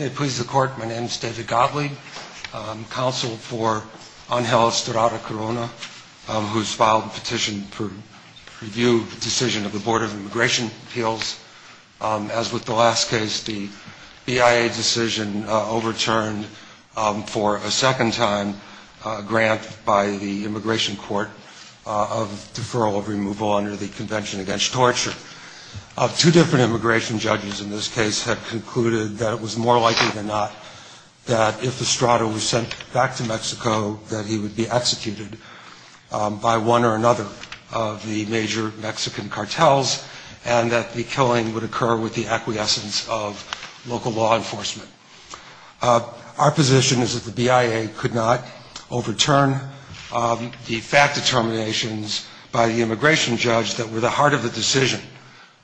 My name is David Gottlieb, counsel for Ángel Estrada-Corona, who has filed a petition to review the decision of the Board of Immigration Appeals. As with the last case, the BIA decision overturned for a second-time grant by the Immigration Court of deferral of removal under the Convention Against Torture. Two different immigration judges in this case had concluded that it was more likely than not that if Estrada was sent back to Mexico, that he would be executed by one or another of the major Mexican cartels, and that the killing would occur with the acquiescence of local law enforcement. Our position is that the BIA could not overturn the fact determinations by the immigration judge that were the heart of the decision.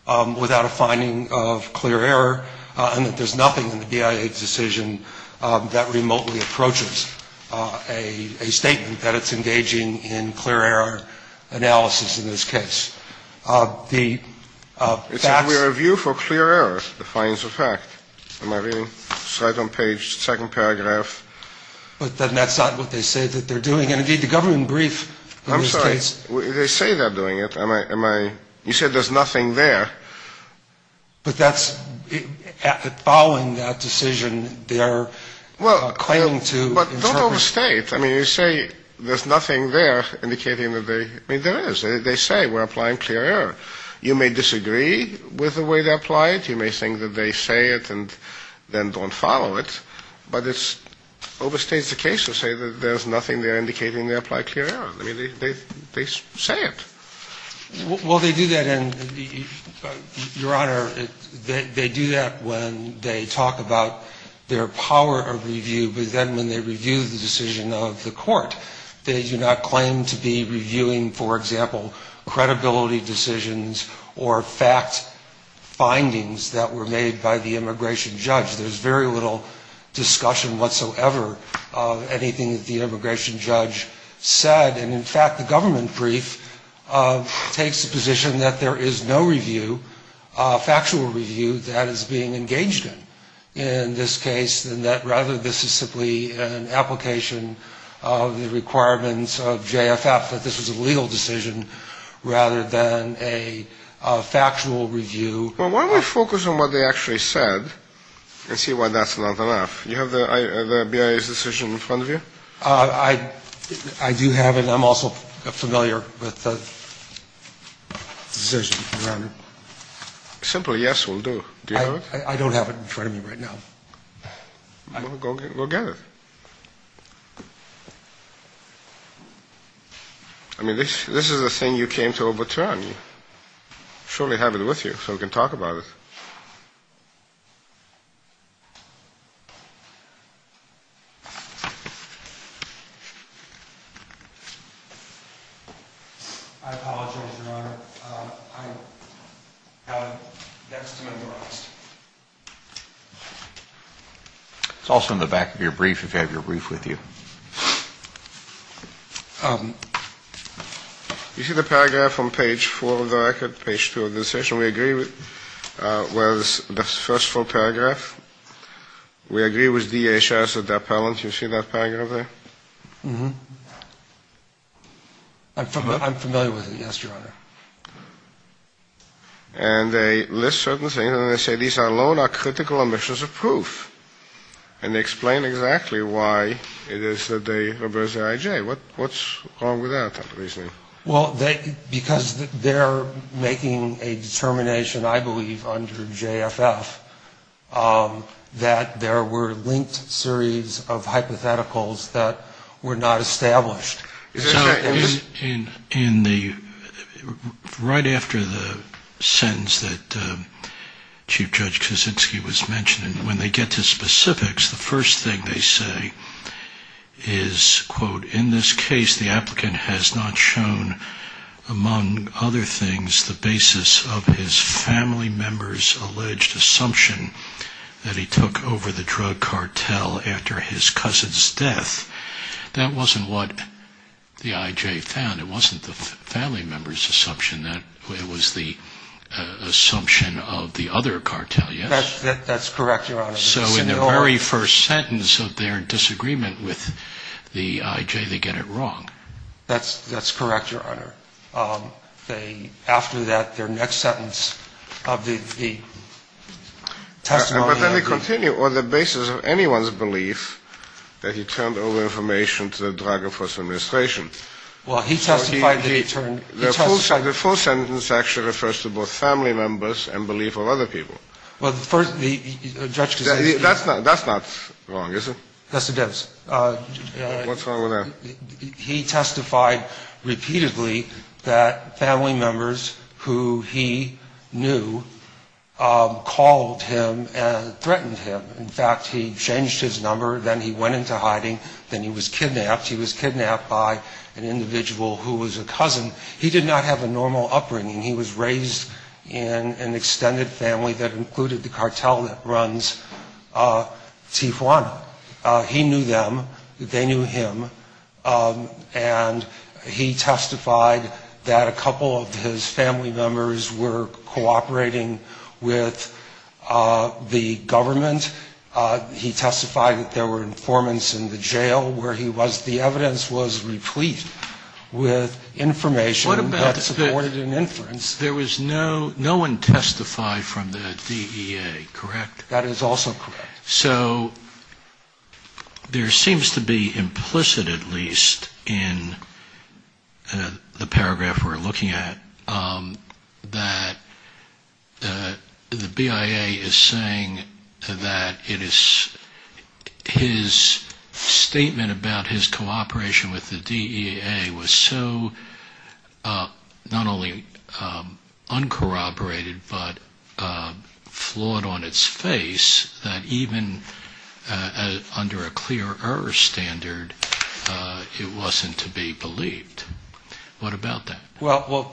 Our position is that the BIA could not overturn the fact determinations by the immigration judge that were the heart of the decision. Our position is that the BIA could not overturn the fact determinations by the immigration judge that were the heart of the decision. Your Honor, they do that when they talk about their power of review, but then when they review the decision of the court, they do not claim to be reviewing, for example, credibility decisions or fact findings that were made by the immigration judge. There's very little discussion whatsoever of anything that the immigration judge said. And in fact, the government brief takes the position that there is no review, factual review, that is being engaged in, in this case, and that rather this is simply an application of the requirements of JFF that this was a legal decision rather than a factual review. Well, why don't we focus on what they actually said and see why that's not enough. You have the BIA's decision in front of you? I do have it, and I'm also familiar with the decision, Your Honor. Simply yes will do. Do you have it? I don't have it in front of me right now. Well, go get it. I mean, this is a thing you came to overturn. Surely have it with you so we can talk about it. I apologize, Your Honor. It's also in the back of your brief, if you have your brief with you. You see the paragraph on page four of the record, page two of the decision? We agree with the first full paragraph. We agree with DHS at that point. You see that paragraph there? I'm familiar with it, yes, Your Honor. And they list certain things, and they say these alone are critical omissions of proof. And they explain exactly why it is that they reversed the IJ. What's wrong with that? Well, because they're making a determination, I believe, under JFF, that there were linked series of hypotheticals that were not established. Right after the sentence that Chief Judge Kaczynski was mentioning, when they get to specifics, the first thing they say is, quote, in this case the applicant has not shown, among other things, the basis of his family member's alleged assumption that he took over the drug cartel after his cousin's death. That wasn't what the IJ found. It wasn't the family member's assumption. It was the assumption of the other cartel, yes? That's correct, Your Honor. So in the very first sentence of their disagreement with the IJ, they get it wrong. That's correct, Your Honor. After that, their next sentence of the testimony... But then they continue, on the basis of anyone's belief that he turned over information to the Drug Enforcement Administration. The full sentence actually refers to both family members and belief of other people. That's not wrong, is it? That's the difference. What's wrong with that? He testified repeatedly that family members who he knew called him and threatened him. In fact, he changed his number, then he went into hiding, then he was kidnapped. He was kidnapped by an individual who was a cousin. He did not have a normal upbringing. He was raised in an extended family that included the cartel that runs Tijuana. He knew them. They knew him. And he testified that a couple of his family members were cooperating with the government. He testified that there were informants in the jail where he was. The evidence was replete with information that supported an inference. No one testified from the DEA, correct? That is also correct. So there seems to be implicit, at least, in the paragraph we're looking at, that the BIA is saying that it is his statement about his cooperation with the DEA was so not only uncorroborated, but flawed on its face, that even under a clear error standard, it wasn't to be believed. What about that? Well,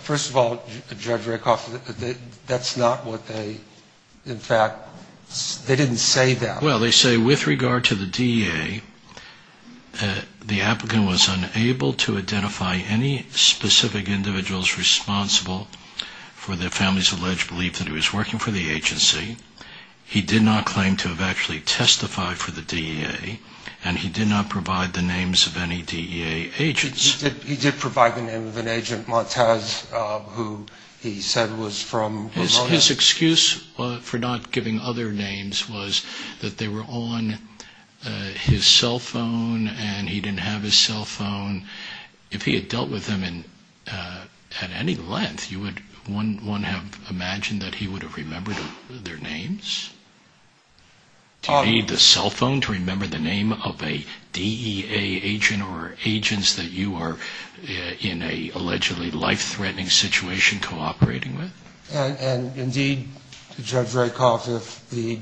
first of all, Judge Rakoff, that's not what they, in fact, they didn't say that. Well, they say, with regard to the DEA, the applicant was unable to identify any specific individuals responsible for the family's alleged belief that he was working for the agency. He did not claim to have actually testified for the DEA, and he did not provide the names of any DEA agents. He did provide the name of an agent, Montez, who he said was from Ramones. His excuse for not giving other names was that they were on his cell phone and he didn't have his cell phone. If he had dealt with them at any length, one would have imagined that he would have remembered their names. Do you need the cell phone to remember the name of a DEA agent or agents that you are in an allegedly life-threatening situation cooperating with? And indeed, Judge Rakoff, if the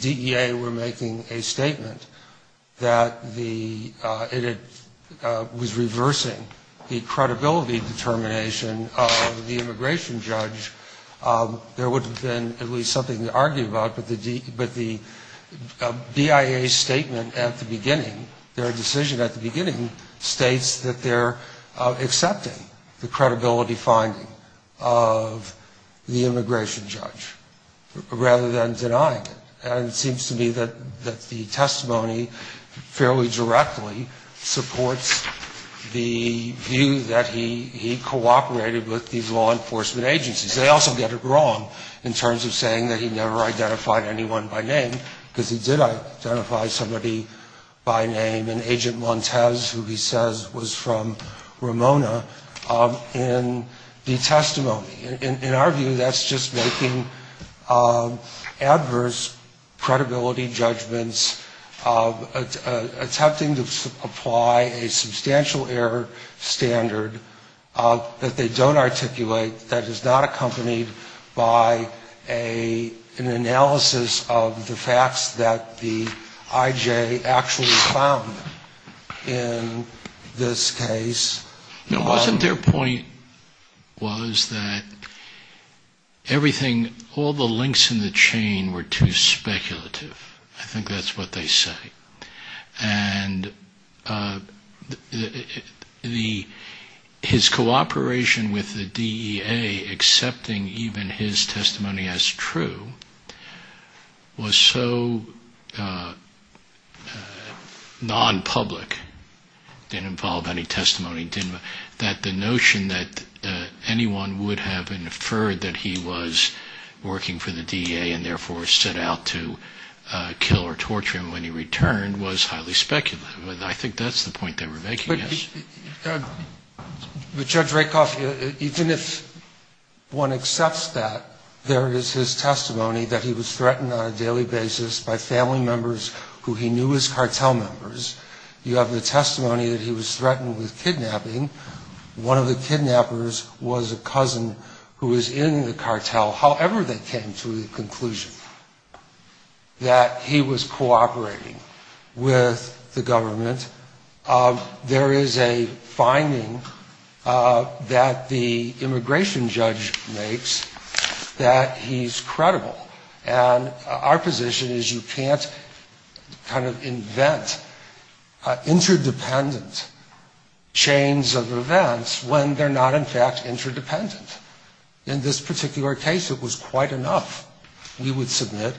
DEA were making a statement that it was reversing the credibility determination of the immigration judge, there would have been at least something to argue about. But the BIA statement at the beginning, their decision at the beginning, states that they're accepting the credibility finding of the immigration judge, rather than denying it. And it seems to me that the testimony fairly directly supports the view that he cooperated with these law enforcement agencies. They also get it wrong in terms of saying that he never identified anyone by name, because he did identify somebody by name, an agent Montez, who he says was from Ramona, in the testimony. In our view, that's just making adverse credibility judgments, attempting to apply a substantial error standard that they don't articulate, that is not accompanied by an analysis of the facts that the IJ actually found in this case. Now, wasn't their point was that everything, all the links in the chain were too speculative? I think that's what they say. And his cooperation with the DEA, accepting even his testimony as true, was so non-public, didn't involve any testimony, that the notion that anyone would have inferred that he was working for the DEA and therefore set out to kill or torture him when he returned was highly speculative. And I think that's the point they were making, yes. But Judge Rakoff, even if one accepts that, there is his testimony that he was threatened on a daily basis by family members who he knew as cartel members. You have the testimony that he was threatened with kidnapping. One of the kidnappers was a cousin who was in the cartel. However, they came to the conclusion that he was cooperating with the government. There is a finding that the immigration judge makes that he's credible. And our position is you can't kind of invent interdependent chains of evidence when they're not, in fact, interdependent. In this particular case, it was quite enough, we would submit,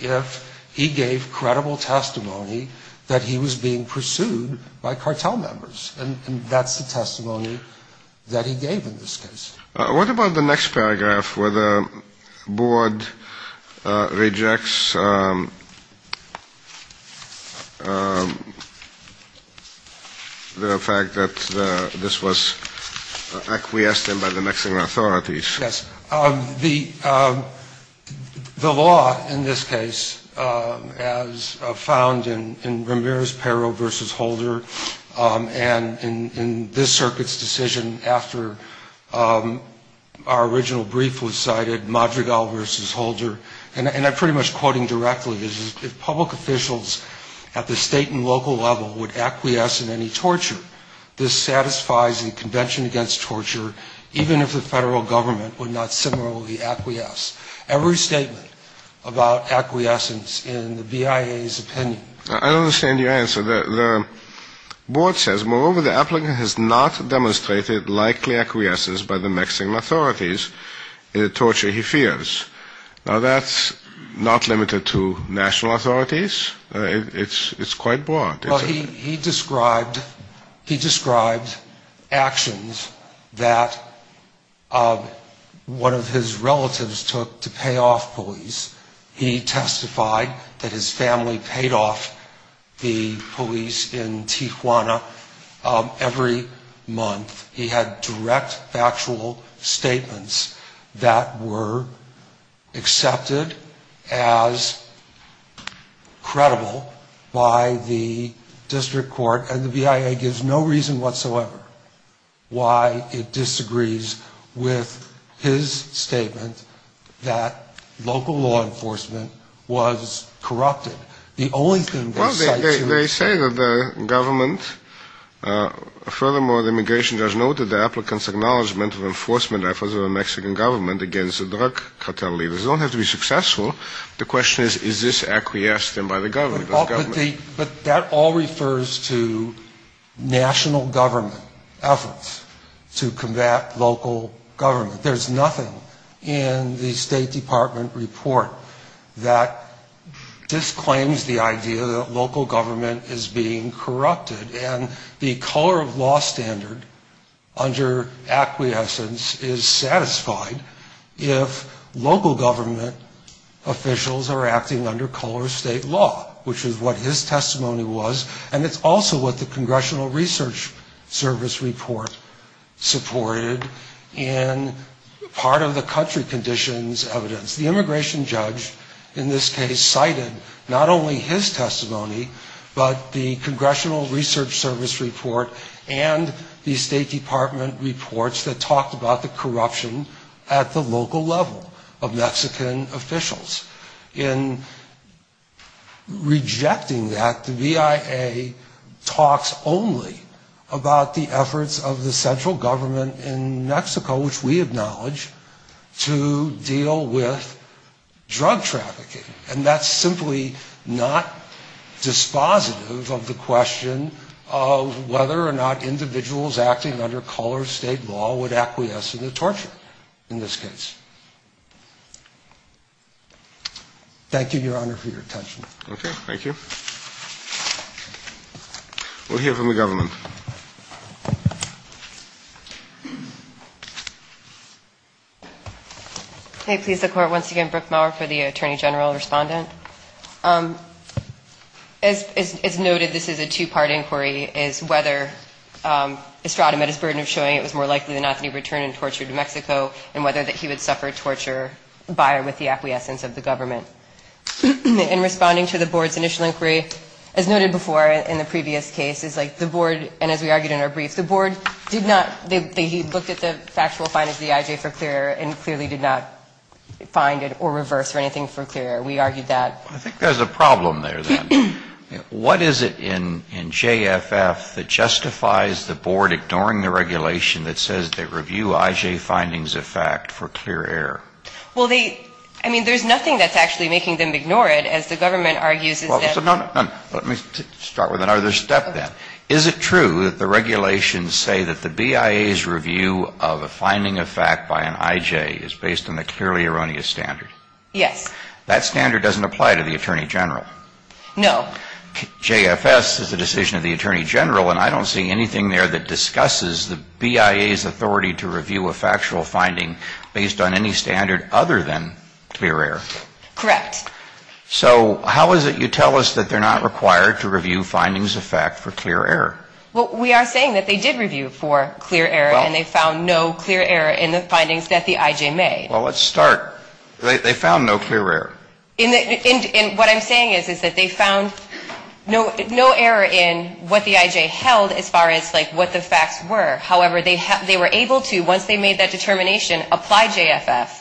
if he gave credible testimony that he was being pursued by cartel members. And that's the testimony that he gave in this case. What about the next paragraph, where the board rejects the fact that this is not true? This was acquiesced in by the Mexican authorities. Yes. The law in this case, as found in Ramirez-Pero v. Holder and in this circuit's decision after our original brief was cited, Madrigal v. Holder, and I'm pretty much quoting directly, is if public officials at the state and local level would acquiesce in any torture, this satisfies the Convention Against Torture, even if the federal government would not similarly acquiesce. Every statement about acquiescence in the BIA's opinion. I don't understand your answer. The board says, moreover, the applicant has not demonstrated likely acquiescence by the Mexican authorities in the torture he fears. Now, that's not limited to national authorities. It's quite broad. Well, he described actions that one of his relatives took to pay off police. He testified that his family paid off the police in Tijuana every month. He had direct factual statements that were accepted as credible by the Mexican authorities. And the BIA gives no reason whatsoever why it disagrees with his statement that local law enforcement was corrupted. Well, they say that the government, furthermore, the immigration judge noted the applicant's acknowledgement of enforcement efforts of the Mexican government against the drug cartel leaders. They don't have to be successful. The question is, is this acquiesced by the government? But that all refers to national government efforts to combat local government. There's nothing in the State Department report that disclaims the idea that local government is being corrupted. And the color of law standard under acquiescence is satisfied if local government officials are acting under color of state law, which is not the case. The immigration judge, in this case, cited not only his testimony, but the Congressional Research Service report and the State Department reports that talked about the corruption at the local level of Mexican officials. In rejecting that, the BIA talks only about the efforts of the central government in Mexico, which we acknowledge, to deal with drug trafficking. And that's simply not dispositive of the question of whether or not individuals acting under color of state law would acquiesce in the torture, in this case. Thank you, Your Honor, for your attention. Okay. Thank you. We'll hear from the government. Okay. Please, the Court. Once again, Brooke Maurer for the Attorney General Respondent. As noted, this is a two-part inquiry, is whether Estrada met his burden of showing it was more likely than not that he would return and torture New Mexico, and whether that he would suffer torture by or with the acquiescence of the government. In responding to the Board's initial inquiry, as noted before in the previous case, it's like the Board, and as we argued in our brief, the Board did not, they looked at the factual findings of the IJ for clear, and clearly did not find it or reverse or anything for clear. We argued that. I think there's a problem there, then. What is it in JFF that justifies the Board ignoring the regulation that says they review IJ findings of fact for clear error? Well, they, I mean, there's nothing that's actually making them ignore it, as the government argues. Let me start with another step, then. Is it true that the regulations say that the BIA's review of a finding of fact by an IJ is based on a clearly erroneous standard? Yes. That standard doesn't apply to the Attorney General? No. JFS is the decision of the Attorney General, and I don't see anything there that discusses the BIA's authority to review a factual finding based on any standard other than clear error. Correct. So how is it you tell us that they're not required to review findings of fact for clear error? Well, we are saying that they did review for clear error, and they found no clear error in the findings that the IJ made. Well, let's start. They found no clear error. And what I'm saying is, is that they found no error in what the IJ held as far as, like, what the facts were. However, they were able to, once they made that determination, apply JFF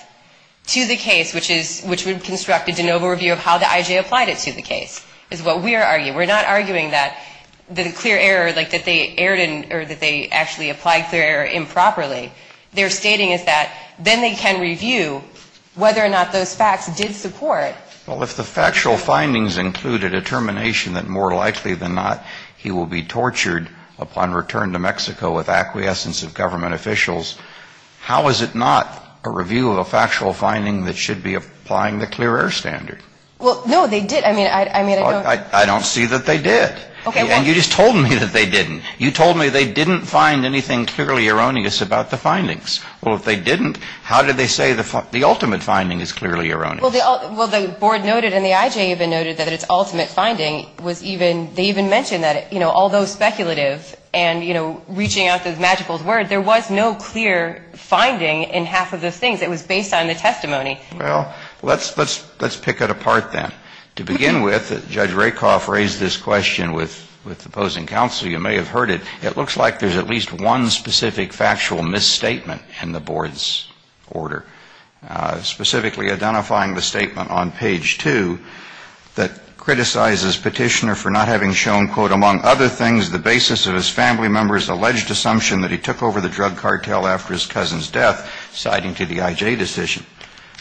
to the case, which would construct a de novo review of how the IJ applied it to the case, is what we are arguing. And we are arguing that the clear error, like, that they erred in, or that they actually applied clear error improperly, they're stating is that then they can review whether or not those facts did support. Well, if the factual findings included a determination that more likely than not he will be tortured upon return to Mexico with acquiescence of government officials, how is it not a review of a factual finding that should be applying the clear error standard? Well, no, they did. I mean, I don't see that they did. And you just told me that they didn't. You told me they didn't find anything clearly erroneous about the findings. Well, if they didn't, how did they say the ultimate finding is clearly erroneous? Well, the board noted and the IJ even noted that its ultimate finding was even, they even mentioned that, you know, although speculative and, you know, reaching out those magical words, there was no clear finding in half of the things. It was based on the testimony. Well, let's pick it apart then. To begin with, Judge Rakoff raised this question with the opposing counsel. You may have heard it. It looks like there's at least one specific factual misstatement in the board's order, specifically identifying the statement on page 2 that criticizes Petitioner for not having shown, quote, among other things, the basis of his family member's alleged assumption that he took over the drug cartel after his cousin's death, citing to the IJ decision.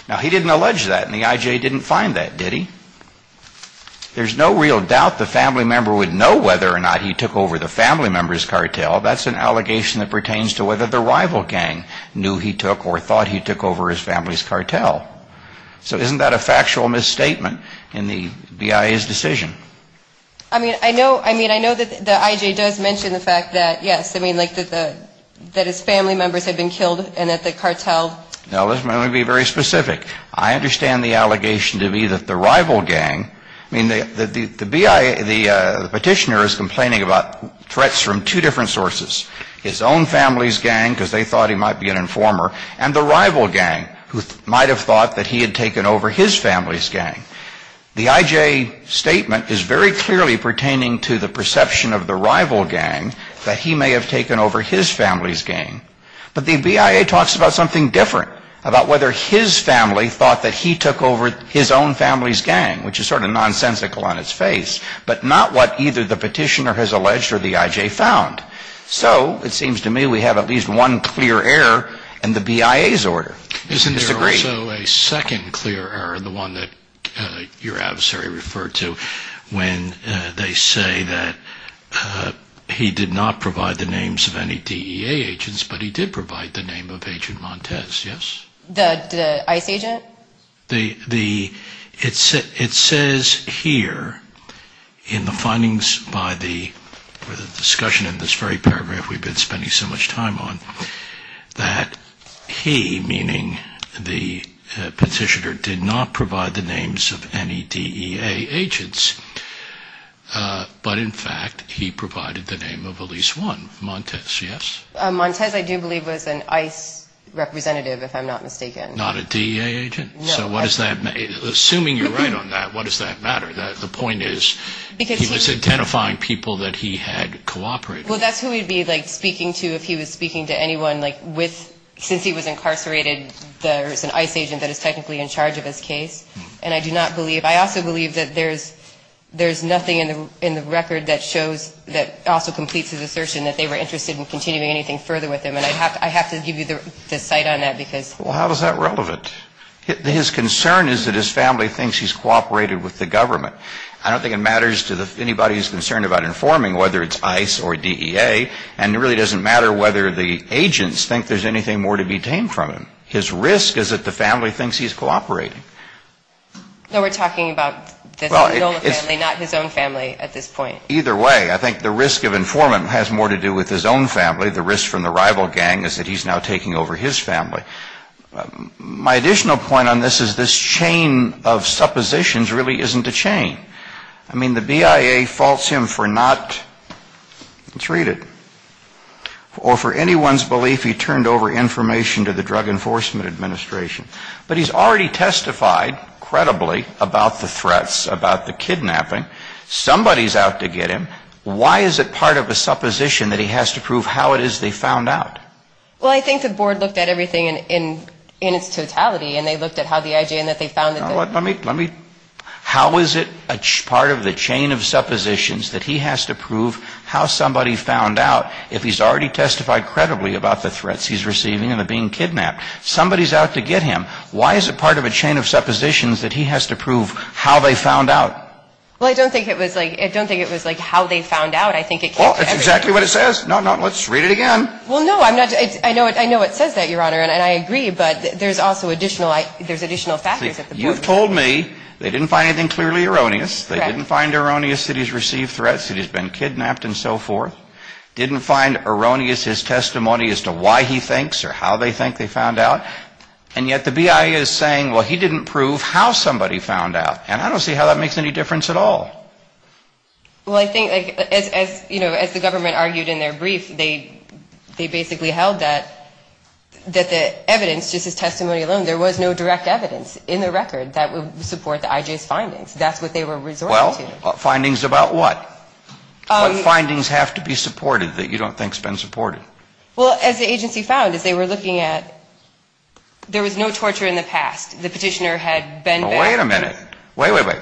Now, he didn't allege that, and the IJ didn't find that, did he? There's no real doubt the family member would know whether or not he took over the family member's cartel. That's an allegation that pertains to whether the rival gang knew he took or thought he took over his family's cartel. So isn't that a factual misstatement in the BIA's decision? I mean, I know, I mean, I know that the IJ does mention the fact that, yes, I mean, like that the, that his family members had been killed and that the cartel Now, let me be very specific. I understand the allegation to be that the rival gang, I mean, the BIA, the Petitioner is complaining about threats from two different sources. His own family's gang, because they thought he might be an informer, and the rival gang, who might have thought that he had taken over his family's gang. The IJ statement is very clearly pertaining to the perception of the rival gang that he may have taken over his family's gang. But the BIA talks about something different, about whether his family thought that he took over his own family's gang, which is sort of nonsensical on its face, but not what either the Petitioner has alleged or the IJ found. So it seems to me we have at least one clear error in the BIA's order. Isn't there also a second clear error, the one that your adversary referred to, when they say that he did not provide the names of any DEA agents, but he did provide the name of Agent Montez, yes? The ICE agent? It says here in the findings by the, or the discussion in this very paragraph we've been spending so much time on, that he, meaning the IJ, meaning the Petitioner, did not provide the names of any DEA agents, but in fact he provided the name of at least one, Montez, yes? Montez, I do believe, was an ICE representative, if I'm not mistaken. Not a DEA agent? No. So what does that, assuming you're right on that, what does that matter? The point is, he was identifying people that he had cooperated with. Well, that's who he'd be, like, speaking to if he was speaking to anyone, like, with, since he was incarcerated, there's an ICE agent that is technically in charge of his case. And I do not believe, I also believe that there's nothing in the record that shows, that also completes his assertion that they were interested in continuing anything further with him. And I'd have to, I'd have to give you the cite on that, because. Well, how is that relevant? His concern is that his family thinks he's cooperated with the government. I don't think it matters to anybody who's concerned about informing whether it's ICE or DEA, and it really doesn't matter whether the agents think there's anything more to be tamed from him. His risk is that the family thinks he's cooperating. No, we're talking about the Nolan family, not his own family at this point. Either way, I think the risk of informant has more to do with his own family. The risk from the rival gang is that he's now taking over his family. My additional point on this is this chain of suppositions really isn't a chain. I mean, the BIA faults him for not, let's read it. Or for anyone's belief, he turned over information to the Drug Enforcement Administration. But he's already testified, credibly, about the threats, about the kidnapping. Somebody's out to get him. Why is it part of a supposition that he has to prove how it is they found out? Well, I think the board looked at everything in its totality, and they looked at how the IJN that they found out. Well, let me, let me, how is it a part of the chain of suppositions that he has to prove how somebody found out if he's already testified, credibly, about the threats he's receiving and being kidnapped? Somebody's out to get him. Why is it part of a chain of suppositions that he has to prove how they found out? Well, I don't think it was like, I don't think it was like how they found out. Well, that's exactly what it says. No, no, let's read it again. Well, no, I'm not, I know it says that, Your Honor, and I agree, but there's also additional, there's additional factors at the board. You've told me they didn't find anything clearly erroneous, they didn't find erroneous that he's received threats, that he's been kidnapped and so forth. Didn't find erroneous his testimony as to why he thinks or how they think they found out. And yet the BIA is saying, well, he didn't prove how somebody found out. And I don't see how that makes any difference at all. Well, I think, as the government argued in their brief, they basically held that the evidence, just his testimony alone, there was no direct evidence in the record that would support the IJ's findings. That's what they were resorting to. Findings about what? Findings have to be supported that you don't think has been supported. Well, as the agency found, as they were looking at, there was no torture in the past. The petitioner had been back. Wait a minute. Wait, wait, wait.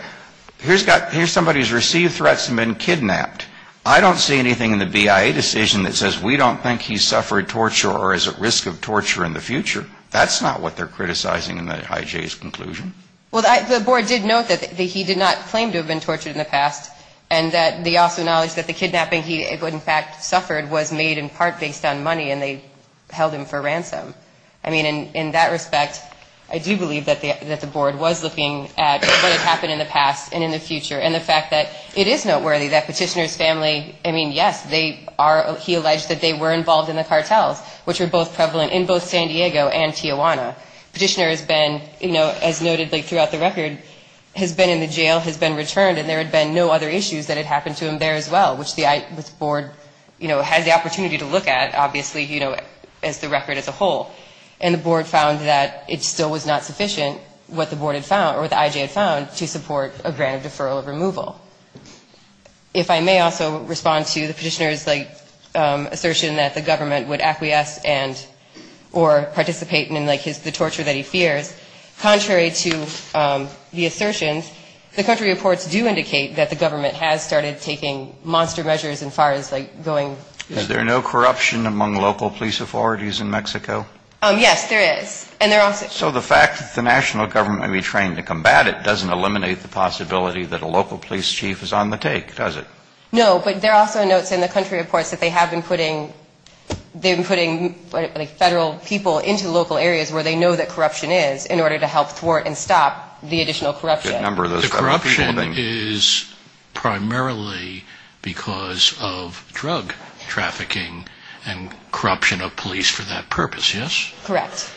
Here's somebody who's received threats and been kidnapped. I don't see anything in the BIA decision that says we don't think he suffered torture or is at risk of torture in the future. That's not what they're criticizing in the IJ's conclusion. Well, the board did note that he did not claim to have been tortured in the past and that they also acknowledged that the kidnapping he in fact did not happen in the past and in the future. And the fact that it is noteworthy that petitioner's family, I mean, yes, they are, he alleged that they were involved in the cartels, which were both prevalent in both San Diego and Tijuana. Petitioner has been, you know, as noted throughout the record, has been in the jail, has been returned, and there had been no other issues that had happened to him there as well, which the board, you know, had the opportunity to look at, obviously, you know, as the record as a whole. And the board found that it still was not sufficient, what the board had found, or what the IJ had found, to support a grant of deferral of removal. If I may also respond to the petitioner's, like, assertion that the government would acquiesce and or participate in, like, the torture that he fears. Contrary to the assertions, the country reports do indicate that the government has started taking monster measures in far as, like, going to Mexico. Is there no corruption among local police authorities in Mexico? Yes, there is. So the fact that the national government may be trained to combat it doesn't eliminate the possibility that a local police chief is on the take, does it? No, but there are also notes in the country reports that they have been putting, like, Federal people into local areas where they know that corruption is, in order to help thwart and stop the additional corruption. The corruption is primarily because of drug trafficking and corruption of police for that purpose, yes? Correct.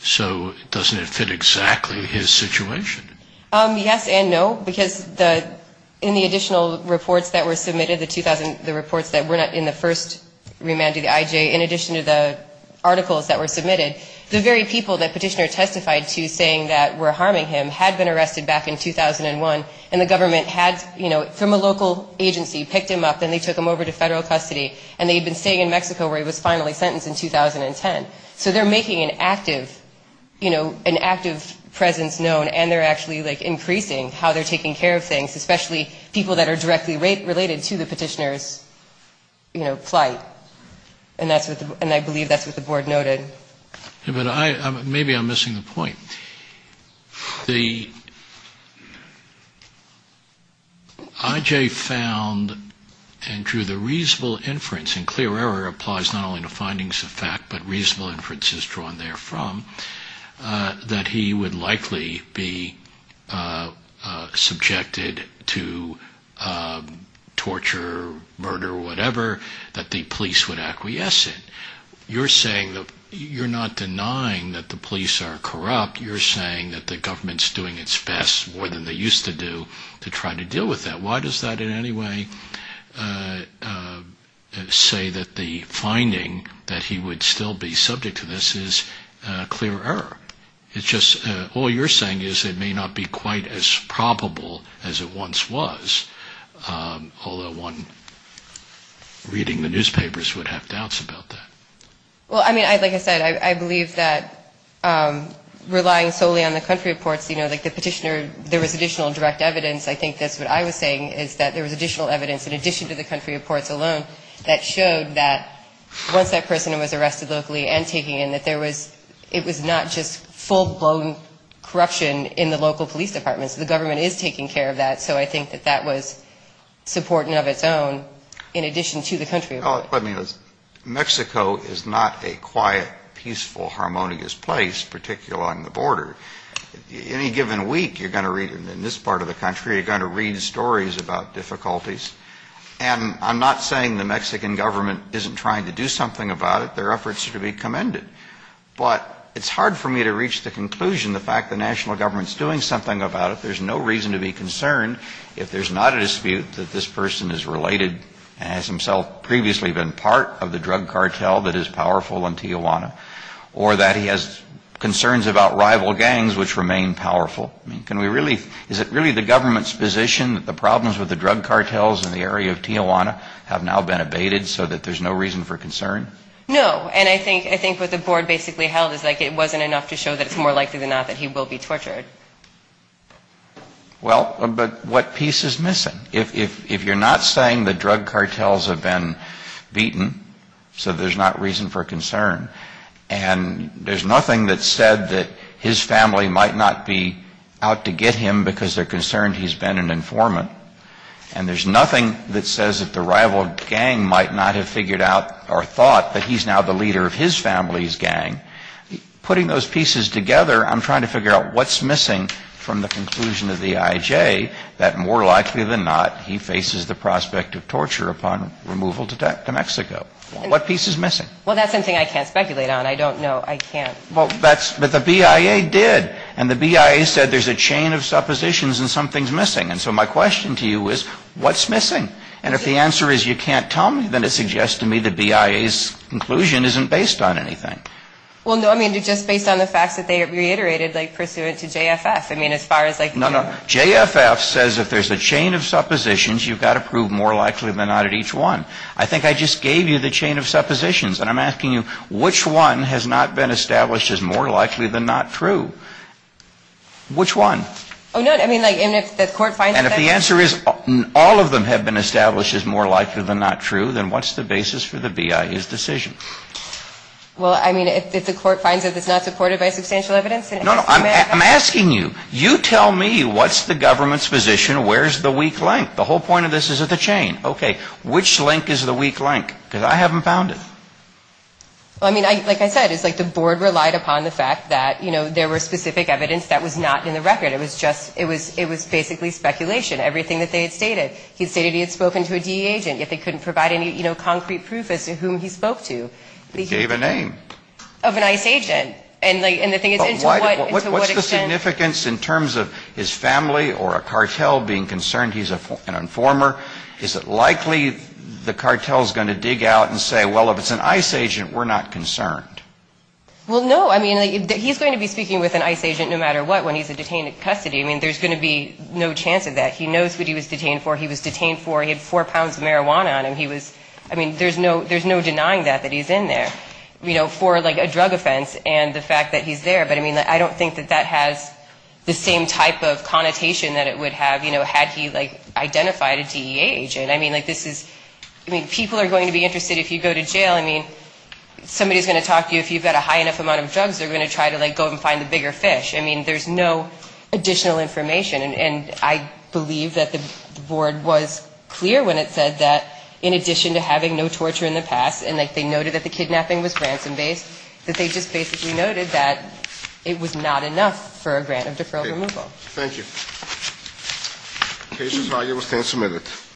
So doesn't it fit exactly his situation? Yes and no, because in the additional reports that were submitted, the 2000, the reports that were in the first remand to the IJ, in addition to the articles that were submitted, the very people that Petitioner testified to saying that were harming him had been arrested back in 2001, and the government had, you know, from a local agency picked him up and they took him over to Federal custody and they had been staying in Mexico where he was finally sentenced in 2010. So they're making an active, you know, an active presence known and they're actually, like, increasing how they're taking care of things, especially people that are directly related to the Petitioner's, you know, plight. And I believe that's what the board noted. But maybe I'm missing the point. The IJ found and drew the reasonable inference, and clear error applies not only to findings of fact, but reasonable inferences drawn therefrom, that he would likely be subjected to torture, murder, or whatever, that the plaintiffs would likely be subject to torture, murder, or whatever, that the police would acquiesce in. You're saying that you're not denying that the police are corrupt. You're saying that the government's doing its best, more than they used to do, to try to deal with that. Why does that in any way say that the finding that he would still be subject to this is clear error? It's just all you're saying is it may not be quite as probable as it once was, although one reading the newspaper would have doubts about that. Well, I mean, like I said, I believe that relying solely on the country reports, you know, like the Petitioner, there was additional direct evidence. I think that's what I was saying, is that there was additional evidence, in addition to the country reports alone, that showed that once that person was arrested locally and taken in, that there was, it was not just full-blown corruption in the local police departments. The government is taking care of that. So I think that that was supporting of its own, in addition to the country reports. Well, let me ask, Mexico is not a quiet, peaceful, harmonious place, particularly on the border. Any given week, you're going to read, in this part of the country, you're going to read stories about difficulties. And I'm not saying the Mexican government isn't trying to do something about it. Their efforts should be commended. But it's hard for me to reach the conclusion, the fact the national government is doing something about it. There's no reason to be concerned if there's not a dispute that this person is related and has himself previously been part of the drug cartel that is powerful in Tijuana, or that he has concerns about rival gangs which remain powerful. I mean, can we really, is it really the government's position that the problems with the drug cartels in the area of Tijuana have now been abated, so that there's no reason for concern? No, and I think what the board basically held is like it wasn't enough to show that it's more likely than not that he will be tortured. Well, but what piece is missing? If you're not saying the drug cartels have been beaten, so there's not reason for concern. And there's nothing that said that his family might not be out to get him because they're concerned he's been an informant. And there's nothing that says that the rival gang might not have figured out or thought that he's now the leader of his family's gang. Putting those pieces together, I'm trying to figure out what's missing from the conclusion of the IJ that more likely than not he faces the prospect of torture upon removal to Mexico. What piece is missing? Well, that's something I can't speculate on. I don't know. I can't. But the BIA did. And the BIA said there's a chain of suppositions and something's missing. And so my question to you is, what's missing? And if the answer is you can't tell me, then it suggests to me the BIA's conclusion isn't based on anything. Well, no, I mean, just based on the facts that they reiterated, like, pursuant to JFF. I mean, as far as, like, you know. No, no. JFF says if there's a chain of suppositions, you've got to prove more likely than not at each one. I think I just gave you the chain of suppositions. And I'm asking you, which one has not been established as more likely than not true? Which one? And if the answer is all of them have been established as more likely than not true, then what's the basis for the BIA's decision? Well, I mean, if the court finds that it's not supported by substantial evidence. No, no, I'm asking you, you tell me what's the government's position, where's the weak link? The whole point of this is at the chain. Okay. Which link is the weak link? Because I haven't found it. Well, I mean, like I said, it's like the board relied upon the fact that, you know, there were specific evidence that was not in the record. It was just, it was basically speculation, everything that they had stated. He stated he had spoken to a DE agent, yet they couldn't provide any, you know, concrete proof as to whom he spoke to. He gave a name. Of an ICE agent. But what's the significance in terms of his family or a cartel being concerned he's an informer? Is it likely the cartel is going to dig out and say, well, if it's an ICE agent, we're not concerned? Well, no, I mean, he's going to be speaking with an ICE agent no matter what when he's in custody. I mean, there's going to be no chance of that. He knows who he was detained for. He had four pounds of marijuana on him. He was, I mean, there's no denying that, that he's in there, you know, for like a drug offense and the fact that he's there. But I mean, I don't think that that has the same type of connotation that it would have, you know, had he like identified a DE agent. I mean, like this is, I mean, people are going to be interested if you go to jail. I mean, somebody's going to talk to you. If you've got a high enough amount of drugs, they're going to try to like go and find the bigger fish. I mean, there's no additional information. And I believe that the board was clear when it said that in addition to having no torture in the past and like they noted that the kidnapping was ransom based, that they just basically noted that it was not enough for a grant of deferral removal. Thank you.